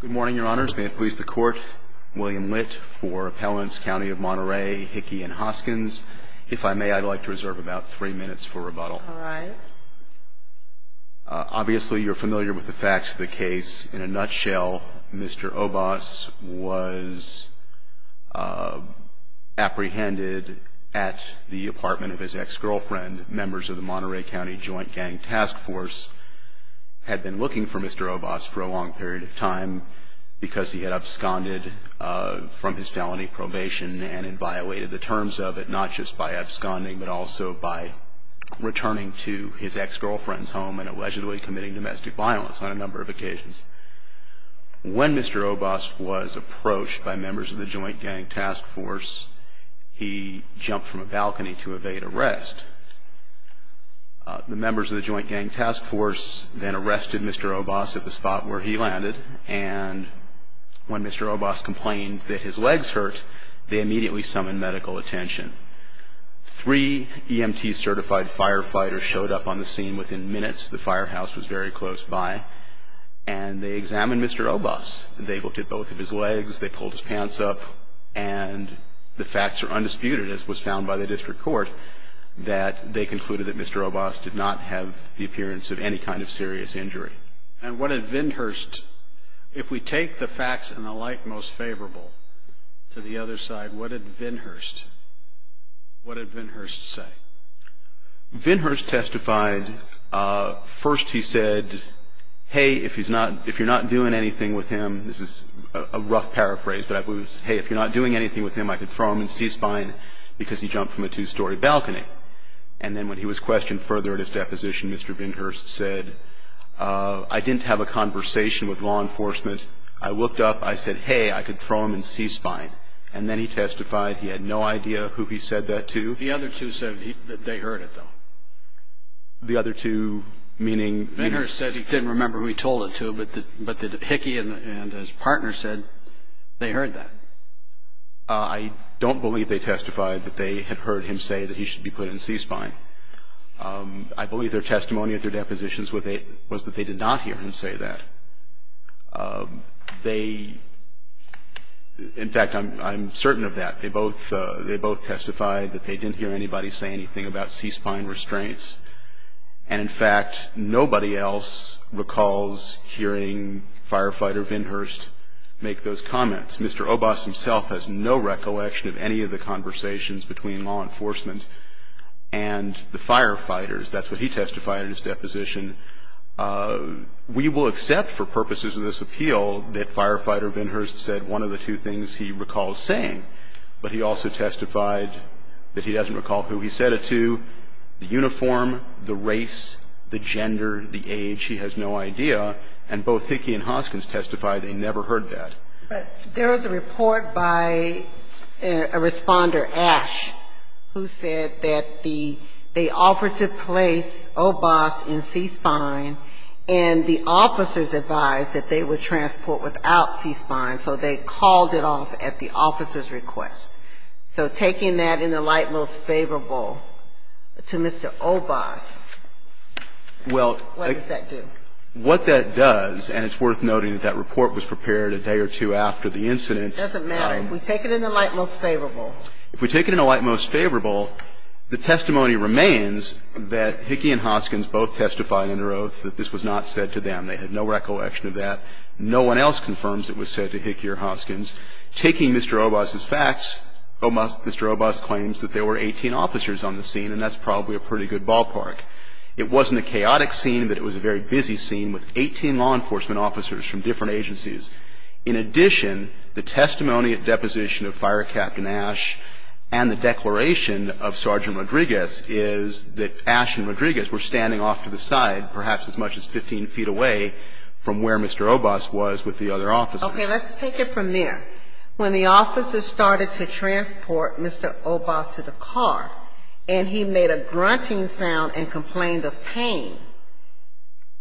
Good morning, Your Honors. May it please the Court, William Litt for Appellants County of Monterey, Hickey, and Hoskins. If I may, I'd like to reserve about three minutes for rebuttal. All right. Obviously, you're familiar with the facts of the case. In a nutshell, Mr. Obas was apprehended at the apartment of his ex-girlfriend. Members of the Monterey County Joint Gang Task Force had been looking for Mr. Obas for a long period of time because he had absconded from his felony probation and inviolated the terms of it, not just by absconding, but also by returning to his ex-girlfriend's home and allegedly committing domestic violence on a number of occasions. When Mr. Obas was approached by members of the Joint Gang Task Force, he jumped from a balcony to evade arrest. The members of the Joint Gang Task Force then arrested Mr. Obas at the spot where he landed, and when Mr. Obas complained that his legs hurt, they immediately summoned medical attention. Three EMT-certified firefighters showed up on the scene within minutes. The firehouse was very close by, and they examined Mr. Obas. They looked at both of his legs. They pulled his pants up, and the facts are undisputed, as was found by the district court, that they concluded that Mr. Obas did not have the appearance of any kind of serious injury. And what did Vinhurst, if we take the facts and the like most favorable to the other side, what did Vinhurst say? Vinhurst testified, first he said, hey, if you're not doing anything with him, this is a rough paraphrase, but it was, hey, if you're not doing anything with him, I could throw him in C-spine because he jumped from a two-story balcony. And then when he was questioned further at his deposition, Mr. Vinhurst said, I didn't have a conversation with law enforcement. I looked up. I said, hey, I could throw him in C-spine. And then he testified he had no idea who he said that to. The other two said that they heard it, though. The other two, meaning? Vinhurst said he didn't remember who he told it to, but Hickey and his partner said they heard that. I don't believe they testified that they had heard him say that he should be put in C-spine. I believe their testimony at their depositions was that they did not hear him say that. They, in fact, I'm certain of that. They both testified that they didn't hear anybody say anything about C-spine restraints. And, in fact, nobody else recalls hearing Firefighter Vinhurst make those comments. Mr. Obas himself has no recollection of any of the conversations between law enforcement and the firefighters. That's what he testified at his deposition. We will accept for purposes of this appeal that Firefighter Vinhurst said one of the two things he recalls saying, but he also testified that he doesn't recall who he said it to, the uniform, the race, the gender, the age. He has no idea. And both Hickey and Hoskins testified they never heard that. There was a report by a responder, Ash, who said that the operative place, Obas, in C-spine, and the officers advised that they would transport without C-spine, so they called it off at the officer's request. So taking that in the light most favorable to Mr. Obas, what does that do? What that does, and it's worth noting that that report was prepared a day or two after the incident. It doesn't matter. If we take it in the light most favorable. If we take it in the light most favorable, the testimony remains that Hickey and Hoskins both testified under oath that this was not said to them. They had no recollection of that. No one else confirms it was said to Hickey or Hoskins. Taking Mr. Obas's facts, Mr. Obas claims that there were 18 officers on the scene, and that's probably a pretty good ballpark. It wasn't a chaotic scene, but it was a very busy scene with 18 law enforcement officers from different agencies. In addition, the testimony at deposition of Fire Captain Ash and the declaration of Sergeant Rodriguez is that Ash and Rodriguez were standing off to the side, perhaps as much as 15 feet away from where Mr. Obas was with the other officers. Let's take it from there. When the officers started to transport Mr. Obas to the car, and he made a grunting sound and complained of pain,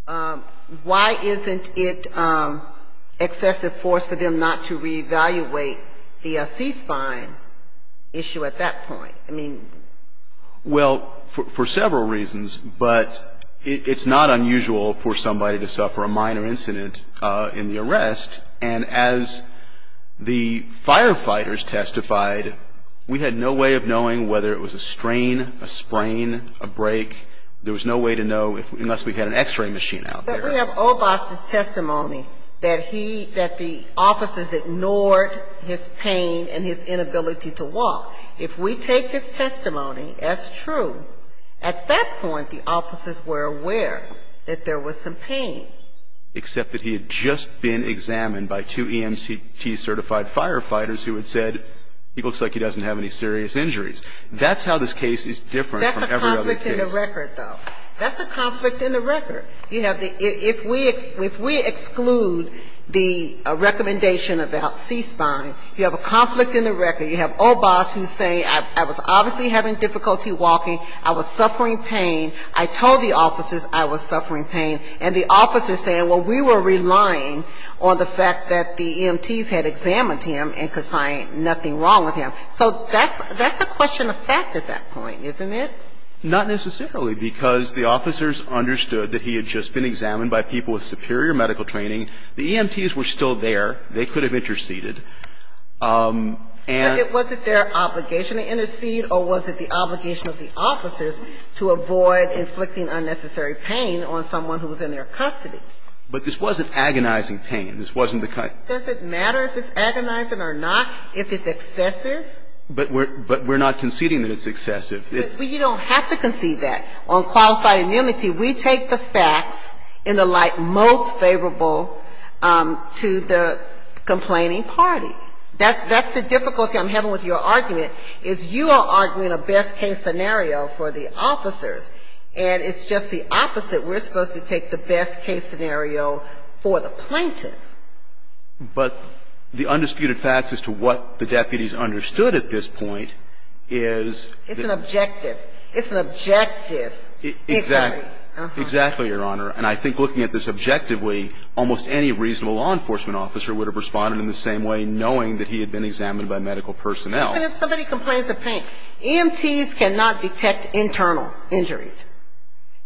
why isn't it excessive force for them not to reevaluate the cease-firing issue at that point? I mean ---- Well, for several reasons, but it's not unusual for somebody to suffer a minor incident in the arrest. And as the firefighters testified, we had no way of knowing whether it was a strain, a sprain, a break. There was no way to know unless we had an X-ray machine out there. But we have Obas's testimony that he, that the officers ignored his pain and his inability to walk. If we take his testimony as true, at that point the officers were aware that there was some pain. And that's how this case is different from every other case. Now, this is a conflict in the record. That's a conflict in the record. You have the ---- if we exclude the recommendation about cease-firing, you have a conflict in the record. You have Obas who's saying I was obviously having difficulty walking, I was suffering pain, I told the officers I was suffering pain, and the officers saying, well, we were relying on the fact that the EMTs had examined him and could find nothing wrong with him. So that's a question of fact at that point, isn't it? Not necessarily, because the officers understood that he had just been examined by people with superior medical training. The EMTs were still there. They could have interceded. And ---- But was it their obligation to intercede, or was it the obligation of the officers to avoid inflicting unnecessary pain on someone who was in their custody? But this wasn't agonizing pain. This wasn't the kind of ---- Does it matter if it's agonizing or not, if it's excessive? But we're not conceding that it's excessive. Well, you don't have to concede that. On qualified immunity, we take the facts in the light most favorable to the complaining party. That's the difficulty I'm having with your argument, is you are arguing a best-case scenario for the officers, and it's just the opposite. We're supposed to take the best-case scenario for the plaintiff. But the undisputed facts as to what the deputies understood at this point is that ---- It's an objective. It's an objective. Exactly. Exactly, Your Honor. And I think looking at this objectively, almost any reasonable law enforcement officer would have responded in the same way, knowing that he had been examined by medical personnel. Even if somebody complains of pain, EMTs cannot detect internal injuries.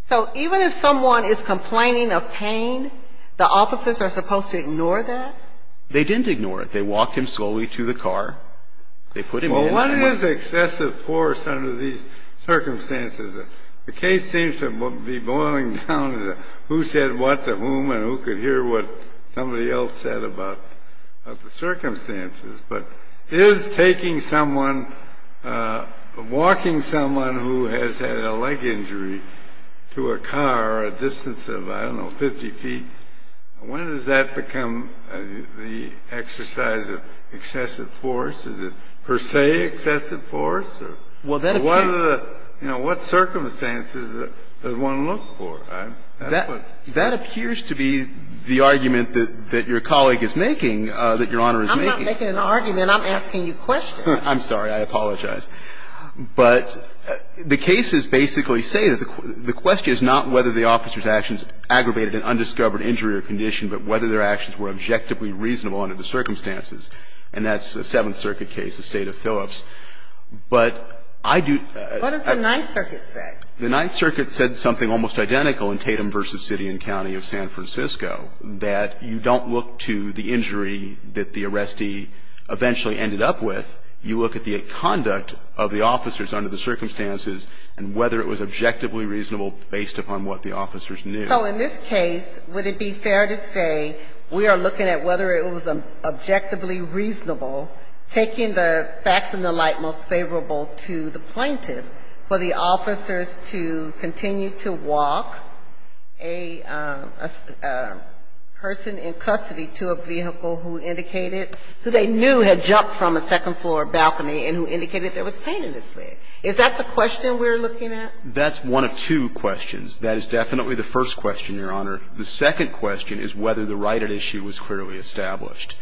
So even if someone is complaining of pain, the officers are supposed to ignore that? They didn't ignore it. They walked him slowly to the car. They put him in. Well, what is excessive force under these circumstances? The case seems to be boiling down to who said what to whom and who could hear what somebody else said about the circumstances. But is taking someone, walking someone who has had a leg injury to a car a distance of, I don't know, 50 feet, when does that become the exercise of excessive force? Is it per se excessive force? Or what are the ---- Well, that appears ---- You know, what circumstances does one look for? That appears to be the argument that your colleague is making, that Your Honor is making. I'm not making an argument. I'm asking you questions. I'm sorry. I apologize. But the cases basically say that the question is not whether the officer's actions aggravated an undiscovered injury or condition, but whether their actions were objectively reasonable under the circumstances. And that's a Seventh Circuit case, the State of Phillips. But I do ---- What does the Ninth Circuit say? The Ninth Circuit said something almost identical in Tatum v. City and County of San Francisco, that you don't look to the injury that the arrestee eventually ended up with. You look at the conduct of the officers under the circumstances and whether it was objectively reasonable based upon what the officers knew. So in this case, would it be fair to say we are looking at whether it was objectively reasonable, taking the facts and the like most favorable to the plaintiff, for the officers to continue to walk a person in custody to a vehicle who indicated who they knew had jumped from a second floor balcony and who indicated there was pain in his leg? Is that the question we're looking at? That's one of two questions. That is definitely the first question, Your Honor. The second question is whether the right at issue was clearly established.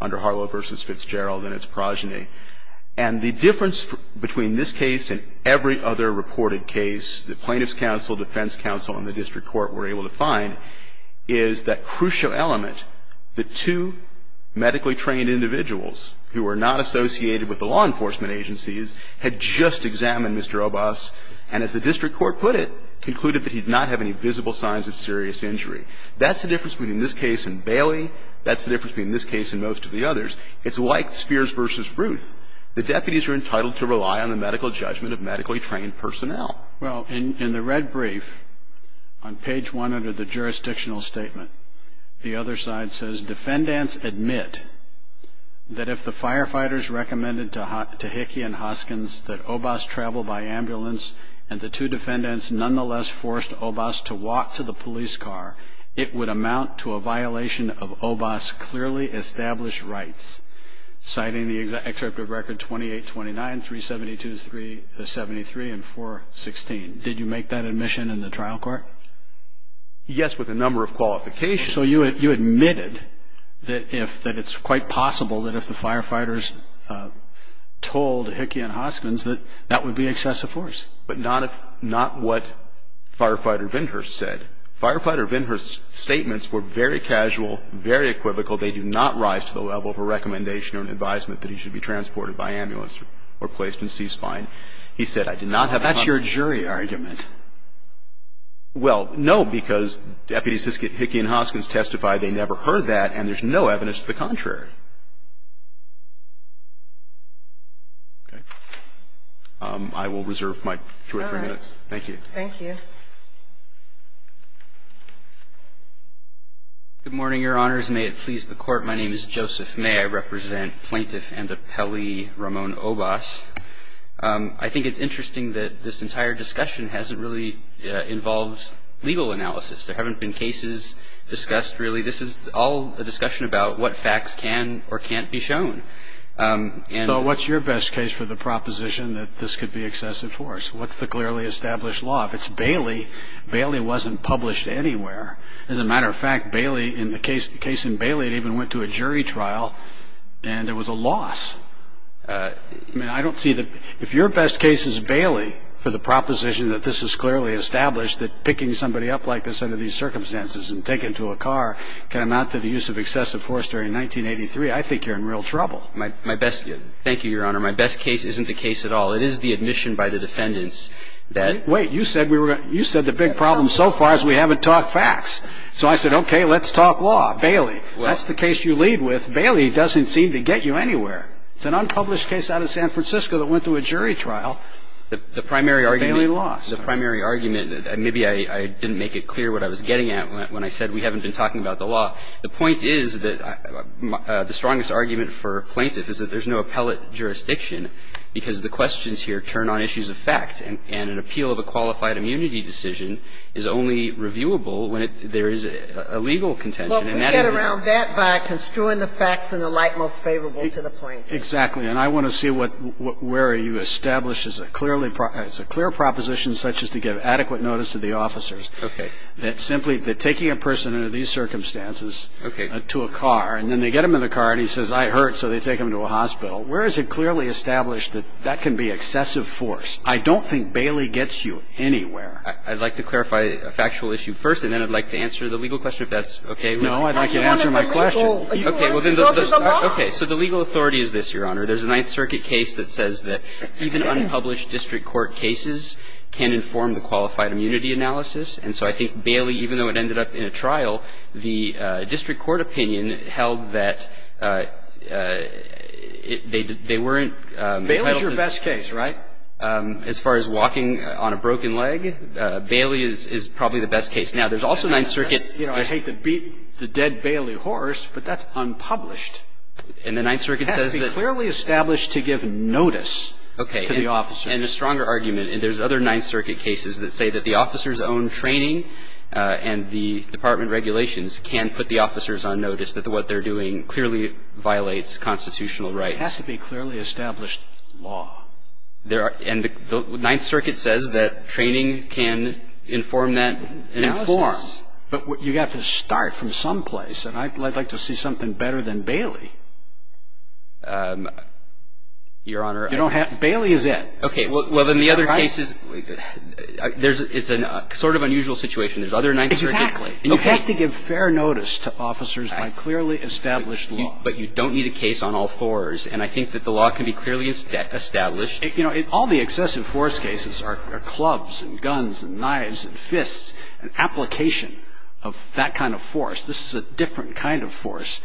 Under Harlow v. Fitzgerald and its progeny. And the difference between this case and every other reported case that plaintiffs' counsel, defense counsel and the district court were able to find is that crucial element, the two medically trained individuals who were not associated with the law enforcement agencies had just examined Mr. Obas, and as the district court put it, concluded that he did not have any visible signs of serious injury. That's the difference between this case and Bailey. That's the difference between this case and most of the others. It's like Spears v. Ruth. The deputies are entitled to rely on the medical judgment of medically trained personnel. Well, in the red brief, on page one under the jurisdictional statement, the other side says, Defendants admit that if the firefighters recommended to Hickey and Hoskins that Obas travel by ambulance and the two defendants nonetheless forced Obas to walk to the hospital, Obas clearly established rights. Citing the extract of record 2829, 372-73 and 416. Did you make that admission in the trial court? Yes, with a number of qualifications. So you admitted that it's quite possible that if the firefighters told Hickey and Hoskins that that would be excessive force. But not what Firefighter Vinhurst said. Firefighter Vinhurst's statements were very casual, very equivocal. They do not rise to the level of a recommendation or an advisement that he should be transported by ambulance or placed in C-spine. He said, I did not have any money. That's your jury argument. Well, no, because deputies Hickey and Hoskins testified they never heard that, and there's no evidence to the contrary. Okay. I will reserve my two or three minutes. All right. Thank you. Good morning, Your Honors. May it please the Court. My name is Joseph May. I represent Plaintiff and Appellee Ramon Obas. I think it's interesting that this entire discussion hasn't really involved legal analysis. There haven't been cases discussed, really. This is all a discussion about what facts can or can't be shown. So what's your best case for the proposition that this could be excessive force? What's the clearly established law? If it's Bailey, Bailey wasn't published anywhere. As a matter of fact, the case in Bailey even went to a jury trial, and there was a loss. I mean, I don't see the ---- If your best case is Bailey for the proposition that this is clearly established, that picking somebody up like this under these circumstances and taking them to a car can amount to the use of excessive force during 1983, I think you're in real trouble. Thank you, Your Honor. My best case isn't the case at all. It is the admission by the defendants that ---- Wait. You said the big problem so far is we haven't talked facts. So I said, okay, let's talk law, Bailey. That's the case you lead with. Bailey doesn't seem to get you anywhere. It's an unpublished case out of San Francisco that went to a jury trial. The primary argument ---- Bailey lost. The primary argument, and maybe I didn't make it clear what I was getting at when I said we haven't been talking about the law. The point is that the strongest argument for plaintiff is that there's no appellate jurisdiction to the question because the questions here turn on issues of fact and an appeal of a qualified immunity decision is only reviewable when there is a legal contention. And that is the ---- Well, we get around that by construing the facts in the light most favorable to the plaintiff. Exactly. And I want to see what ---- where you establish as a clearly ---- as a clear proposition such as to give adequate notice to the officers. Okay. That simply ---- that taking a person under these circumstances to a car and then they get them in the car and he says, I hurt, so they take him to a hospital, where is it that they get him under the circumstances. And I would like to see that clearly established that that can be excessive force. I don't think Bailey gets you anywhere. I'd like to clarify a factual issue first and then I'd like to answer the legal question if that's okay with you. I'd like you to answer my question. Are you going to ---- Okay. So the legal authority is this, Your Honor. There's a Ninth Circuit case that says that even unpublished district court cases can inform the qualified immunity analysis. And so I think Bailey, even though it ended up in a trial, the district court opinion held that they weren't entitled to ---- Bailey's your best case, right? As far as walking on a broken leg, Bailey is probably the best case. Now, there's also Ninth Circuit ---- You know, I hate to beat the dead Bailey horse, but that's unpublished. And the Ninth Circuit says that ---- It has to be clearly established to give notice to the officers. And a stronger argument. And there's other Ninth Circuit cases that say that the officers' own training and the department regulations can put the officers on notice that what they're doing clearly violates constitutional rights. It has to be clearly established law. And the Ninth Circuit says that training can inform that analysis. Inform. But you've got to start from someplace. And I'd like to see something better than Bailey. Your Honor, I ---- You don't have ---- Bailey is it. Okay. Well, then the other case is ---- Wait a minute. It's a sort of unusual situation. There's other Ninth Circuit cases. Exactly. And you have to give fair notice to officers by clearly established law. But you don't need a case on all fours. And I think that the law can be clearly established. You know, all the excessive force cases are clubs and guns and knives and fists, an application of that kind of force. This is a different kind of force,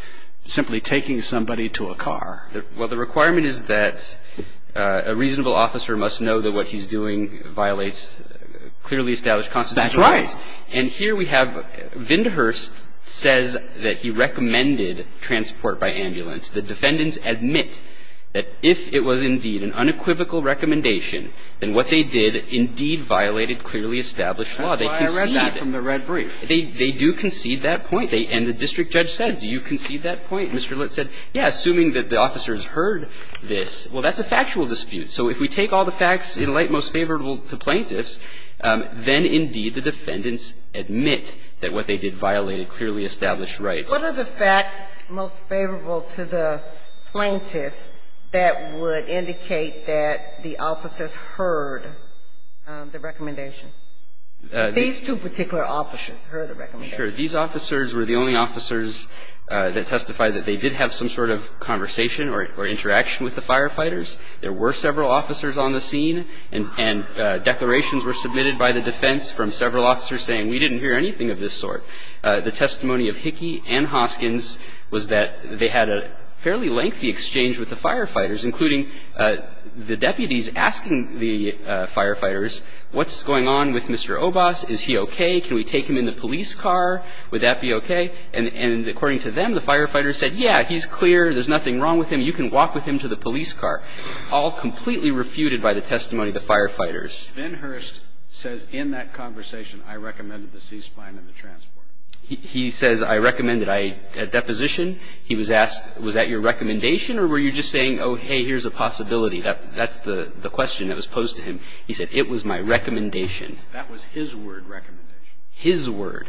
simply taking somebody to a car. Well, the requirement is that a reasonable officer must know that what he's doing violates clearly established constitutional rights. That's right. And here we have Vindehurst says that he recommended transport by ambulance. The defendants admit that if it was indeed an unequivocal recommendation, then what they did indeed violated clearly established law. They concede that. That's why I read that from the red brief. They do concede that point. And the district judge said, do you concede that point? Mr. Litt said, yes, assuming that the officers heard this. Well, that's a factual dispute. So if we take all the facts in light most favorable to plaintiffs, then indeed the defendants admit that what they did violated clearly established rights. What are the facts most favorable to the plaintiff that would indicate that the officers These two particular officers heard the recommendation. Sure. These officers were the only officers that testified that they did have some sort of conversation or interaction with the firefighters. There were several officers on the scene, and declarations were submitted by the defense from several officers saying we didn't hear anything of this sort. The testimony of Hickey and Hoskins was that they had a fairly lengthy exchange with the firefighters, including the deputies asking the firefighters, what's going on with Mr. Obas? Is he okay? Can we take him in the police car? Would that be okay? And according to them, the firefighters said, yeah, he's clear. There's nothing wrong with him. You can walk with him to the police car, all completely refuted by the testimony of the firefighters. Ben Hurst says in that conversation, I recommended the C-spine and the transport. He says I recommended a deposition. He was asked, was that your recommendation, or were you just saying, oh, hey, here's a possibility? That's the question that was posed to him. He said, it was my recommendation. That was his word recommendation. His word.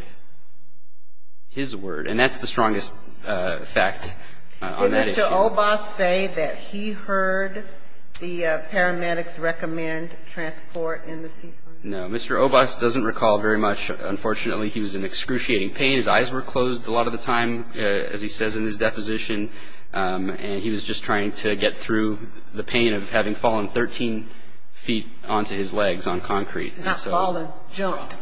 His word. And that's the strongest fact on that issue. Did Mr. Obas say that he heard the paramedics recommend transport in the C-spine? No. Mr. Obas doesn't recall very much. Unfortunately, he was in excruciating pain. His eyes were closed a lot of the time, as he says in his deposition. And he was just trying to get through the pain of having fallen 13 feet onto his legs on concrete. Not fallen, jumped.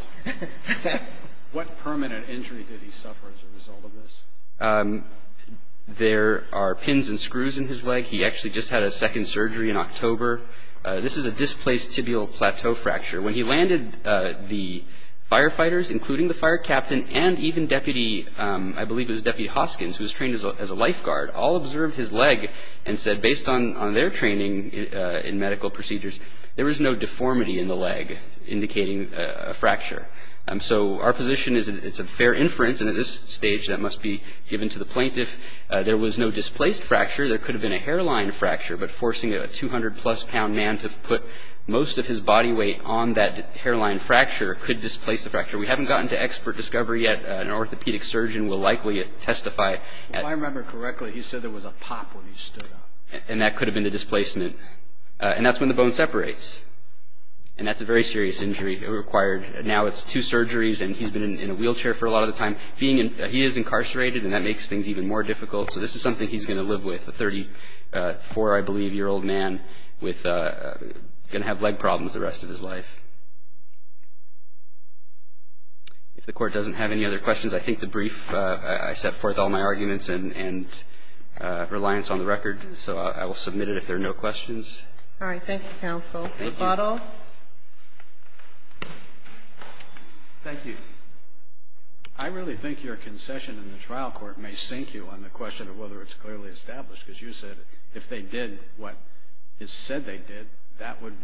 What permanent injury did he suffer as a result of this? There are pins and screws in his leg. He actually just had a second surgery in October. This is a displaced tibial plateau fracture. When he landed, the firefighters, including the fire captain and even Deputy, I believe it was Deputy Hoskins, who was trained as a lifeguard, all observed his leg and said, based on their training in medical procedures, there was no deformity in the leg, indicating a fracture. So our position is that it's a fair inference, and at this stage that must be given to the plaintiff. There was no displaced fracture. There could have been a hairline fracture, but forcing a 200-plus pound man to put most of his body weight on that hairline fracture could displace the fracture. We haven't gotten to expert discovery yet. An orthopedic surgeon will likely testify. If I remember correctly, he said there was a pop when he stood up. And that could have been the displacement. And that's when the bone separates. And that's a very serious injury required. Now it's two surgeries, and he's been in a wheelchair for a lot of the time. He is incarcerated, and that makes things even more difficult. So this is something he's going to live with, a 34, I believe, year old man with going to have leg problems the rest of his life. If the Court doesn't have any other questions, I think the brief, I set forth all my arguments and reliance on the record, so I will submit it if there are no questions. All right. Thank you, counsel. Thank you. Thank you. I really think your concession in the trial court may sink you on the question of whether it's clearly established, because you said if they did what it said they did, that would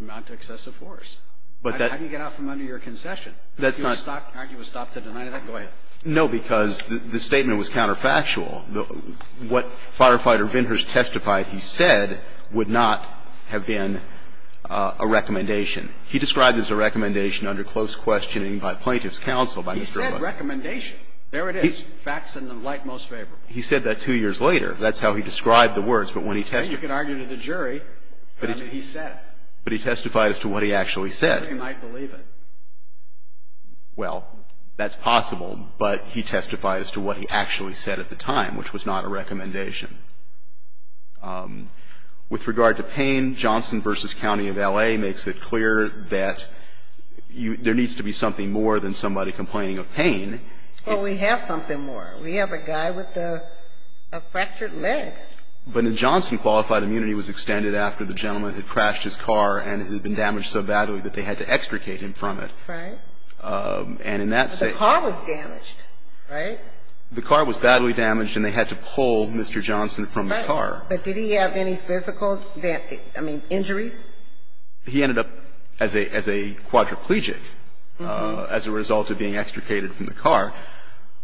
amount to excessive force. How do you get out from under your concession? That's not. Aren't you a stop to deny that? Go ahead. No, because the statement was counterfactual. What Firefighter Vintners testified he said would not have been a recommendation. He described it as a recommendation under close questioning by plaintiff's counsel. He said recommendation. There it is. Facts in the light most favorable. He said that two years later. That's how he described the words, but when he testified. You can argue to the jury, but he said. But he testified as to what he actually said. He might believe it. Well, that's possible, but he testified as to what he actually said at the time. Which was not a recommendation. With regard to pain, Johnson v. County of L.A. makes it clear that there needs to be something more than somebody complaining of pain. Well, we have something more. We have a guy with a fractured leg. But in Johnson, qualified immunity was extended after the gentleman had crashed his car and it had been damaged so badly that they had to extricate him from it. Right. And in that case. But the car was damaged, right? The car was badly damaged and they had to pull Mr. Johnson from the car. Right. But did he have any physical, I mean, injuries? He ended up as a quadriplegic as a result of being extricated from the car.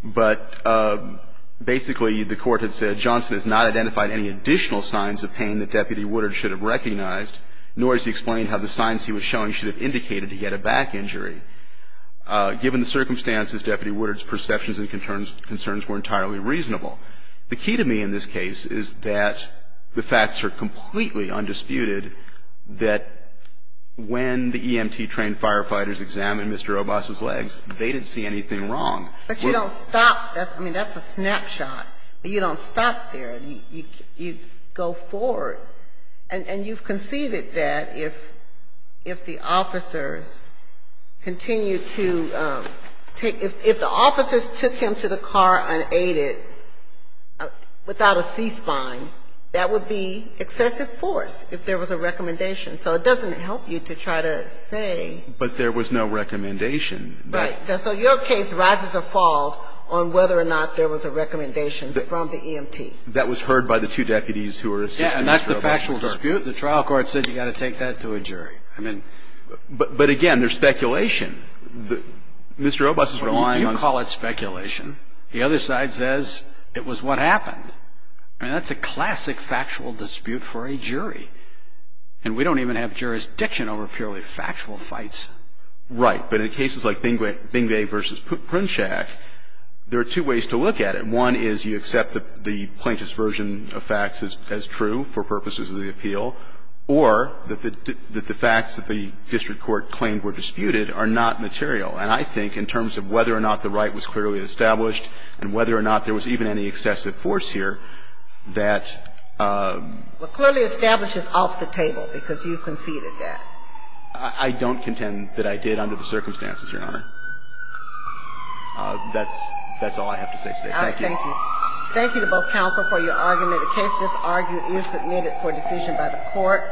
But basically, the Court had said Johnson has not identified any additional signs of pain that Deputy Woodard should have recognized, nor has he explained how the signs he was showing should have indicated he had a back injury. Given the circumstances, Deputy Woodard's perceptions and concerns were entirely reasonable. The key to me in this case is that the facts are completely undisputed that when the EMT-trained firefighters examined Mr. Obas's legs, they didn't see anything wrong. But you don't stop. I mean, that's a snapshot. You don't stop there. You go forward. And you've conceded that if the officers continued to take, if the officers took him to the car unaided without a C-spine, that would be excessive force if there was a recommendation. So it doesn't help you to try to say. But there was no recommendation. Right. So your case rises or falls on whether or not there was a recommendation from the EMT. That was heard by the two deputies who were assisting Mr. Obas. Yeah, and that's the factual dispute. The trial court said you've got to take that to a jury. I mean. But again, there's speculation. Mr. Obas is relying on. You call it speculation. The other side says it was what happened. I mean, that's a classic factual dispute for a jury. And we don't even have jurisdiction over purely factual fights. Right. But in cases like Bingley versus Prunchak, there are two ways to look at it. One is you accept the plaintiff's version of facts as true for purposes of the appeal, or that the facts that the district court claimed were disputed are not material. And I think in terms of whether or not the right was clearly established and whether or not there was even any excessive force here, that. Well, clearly established is off the table because you conceded that. I don't contend that I did under the circumstances, Your Honor. That's all I have to say today. Thank you. Thank you. Thank you to both counsel for your argument. The case is argued and submitted for decision by the court.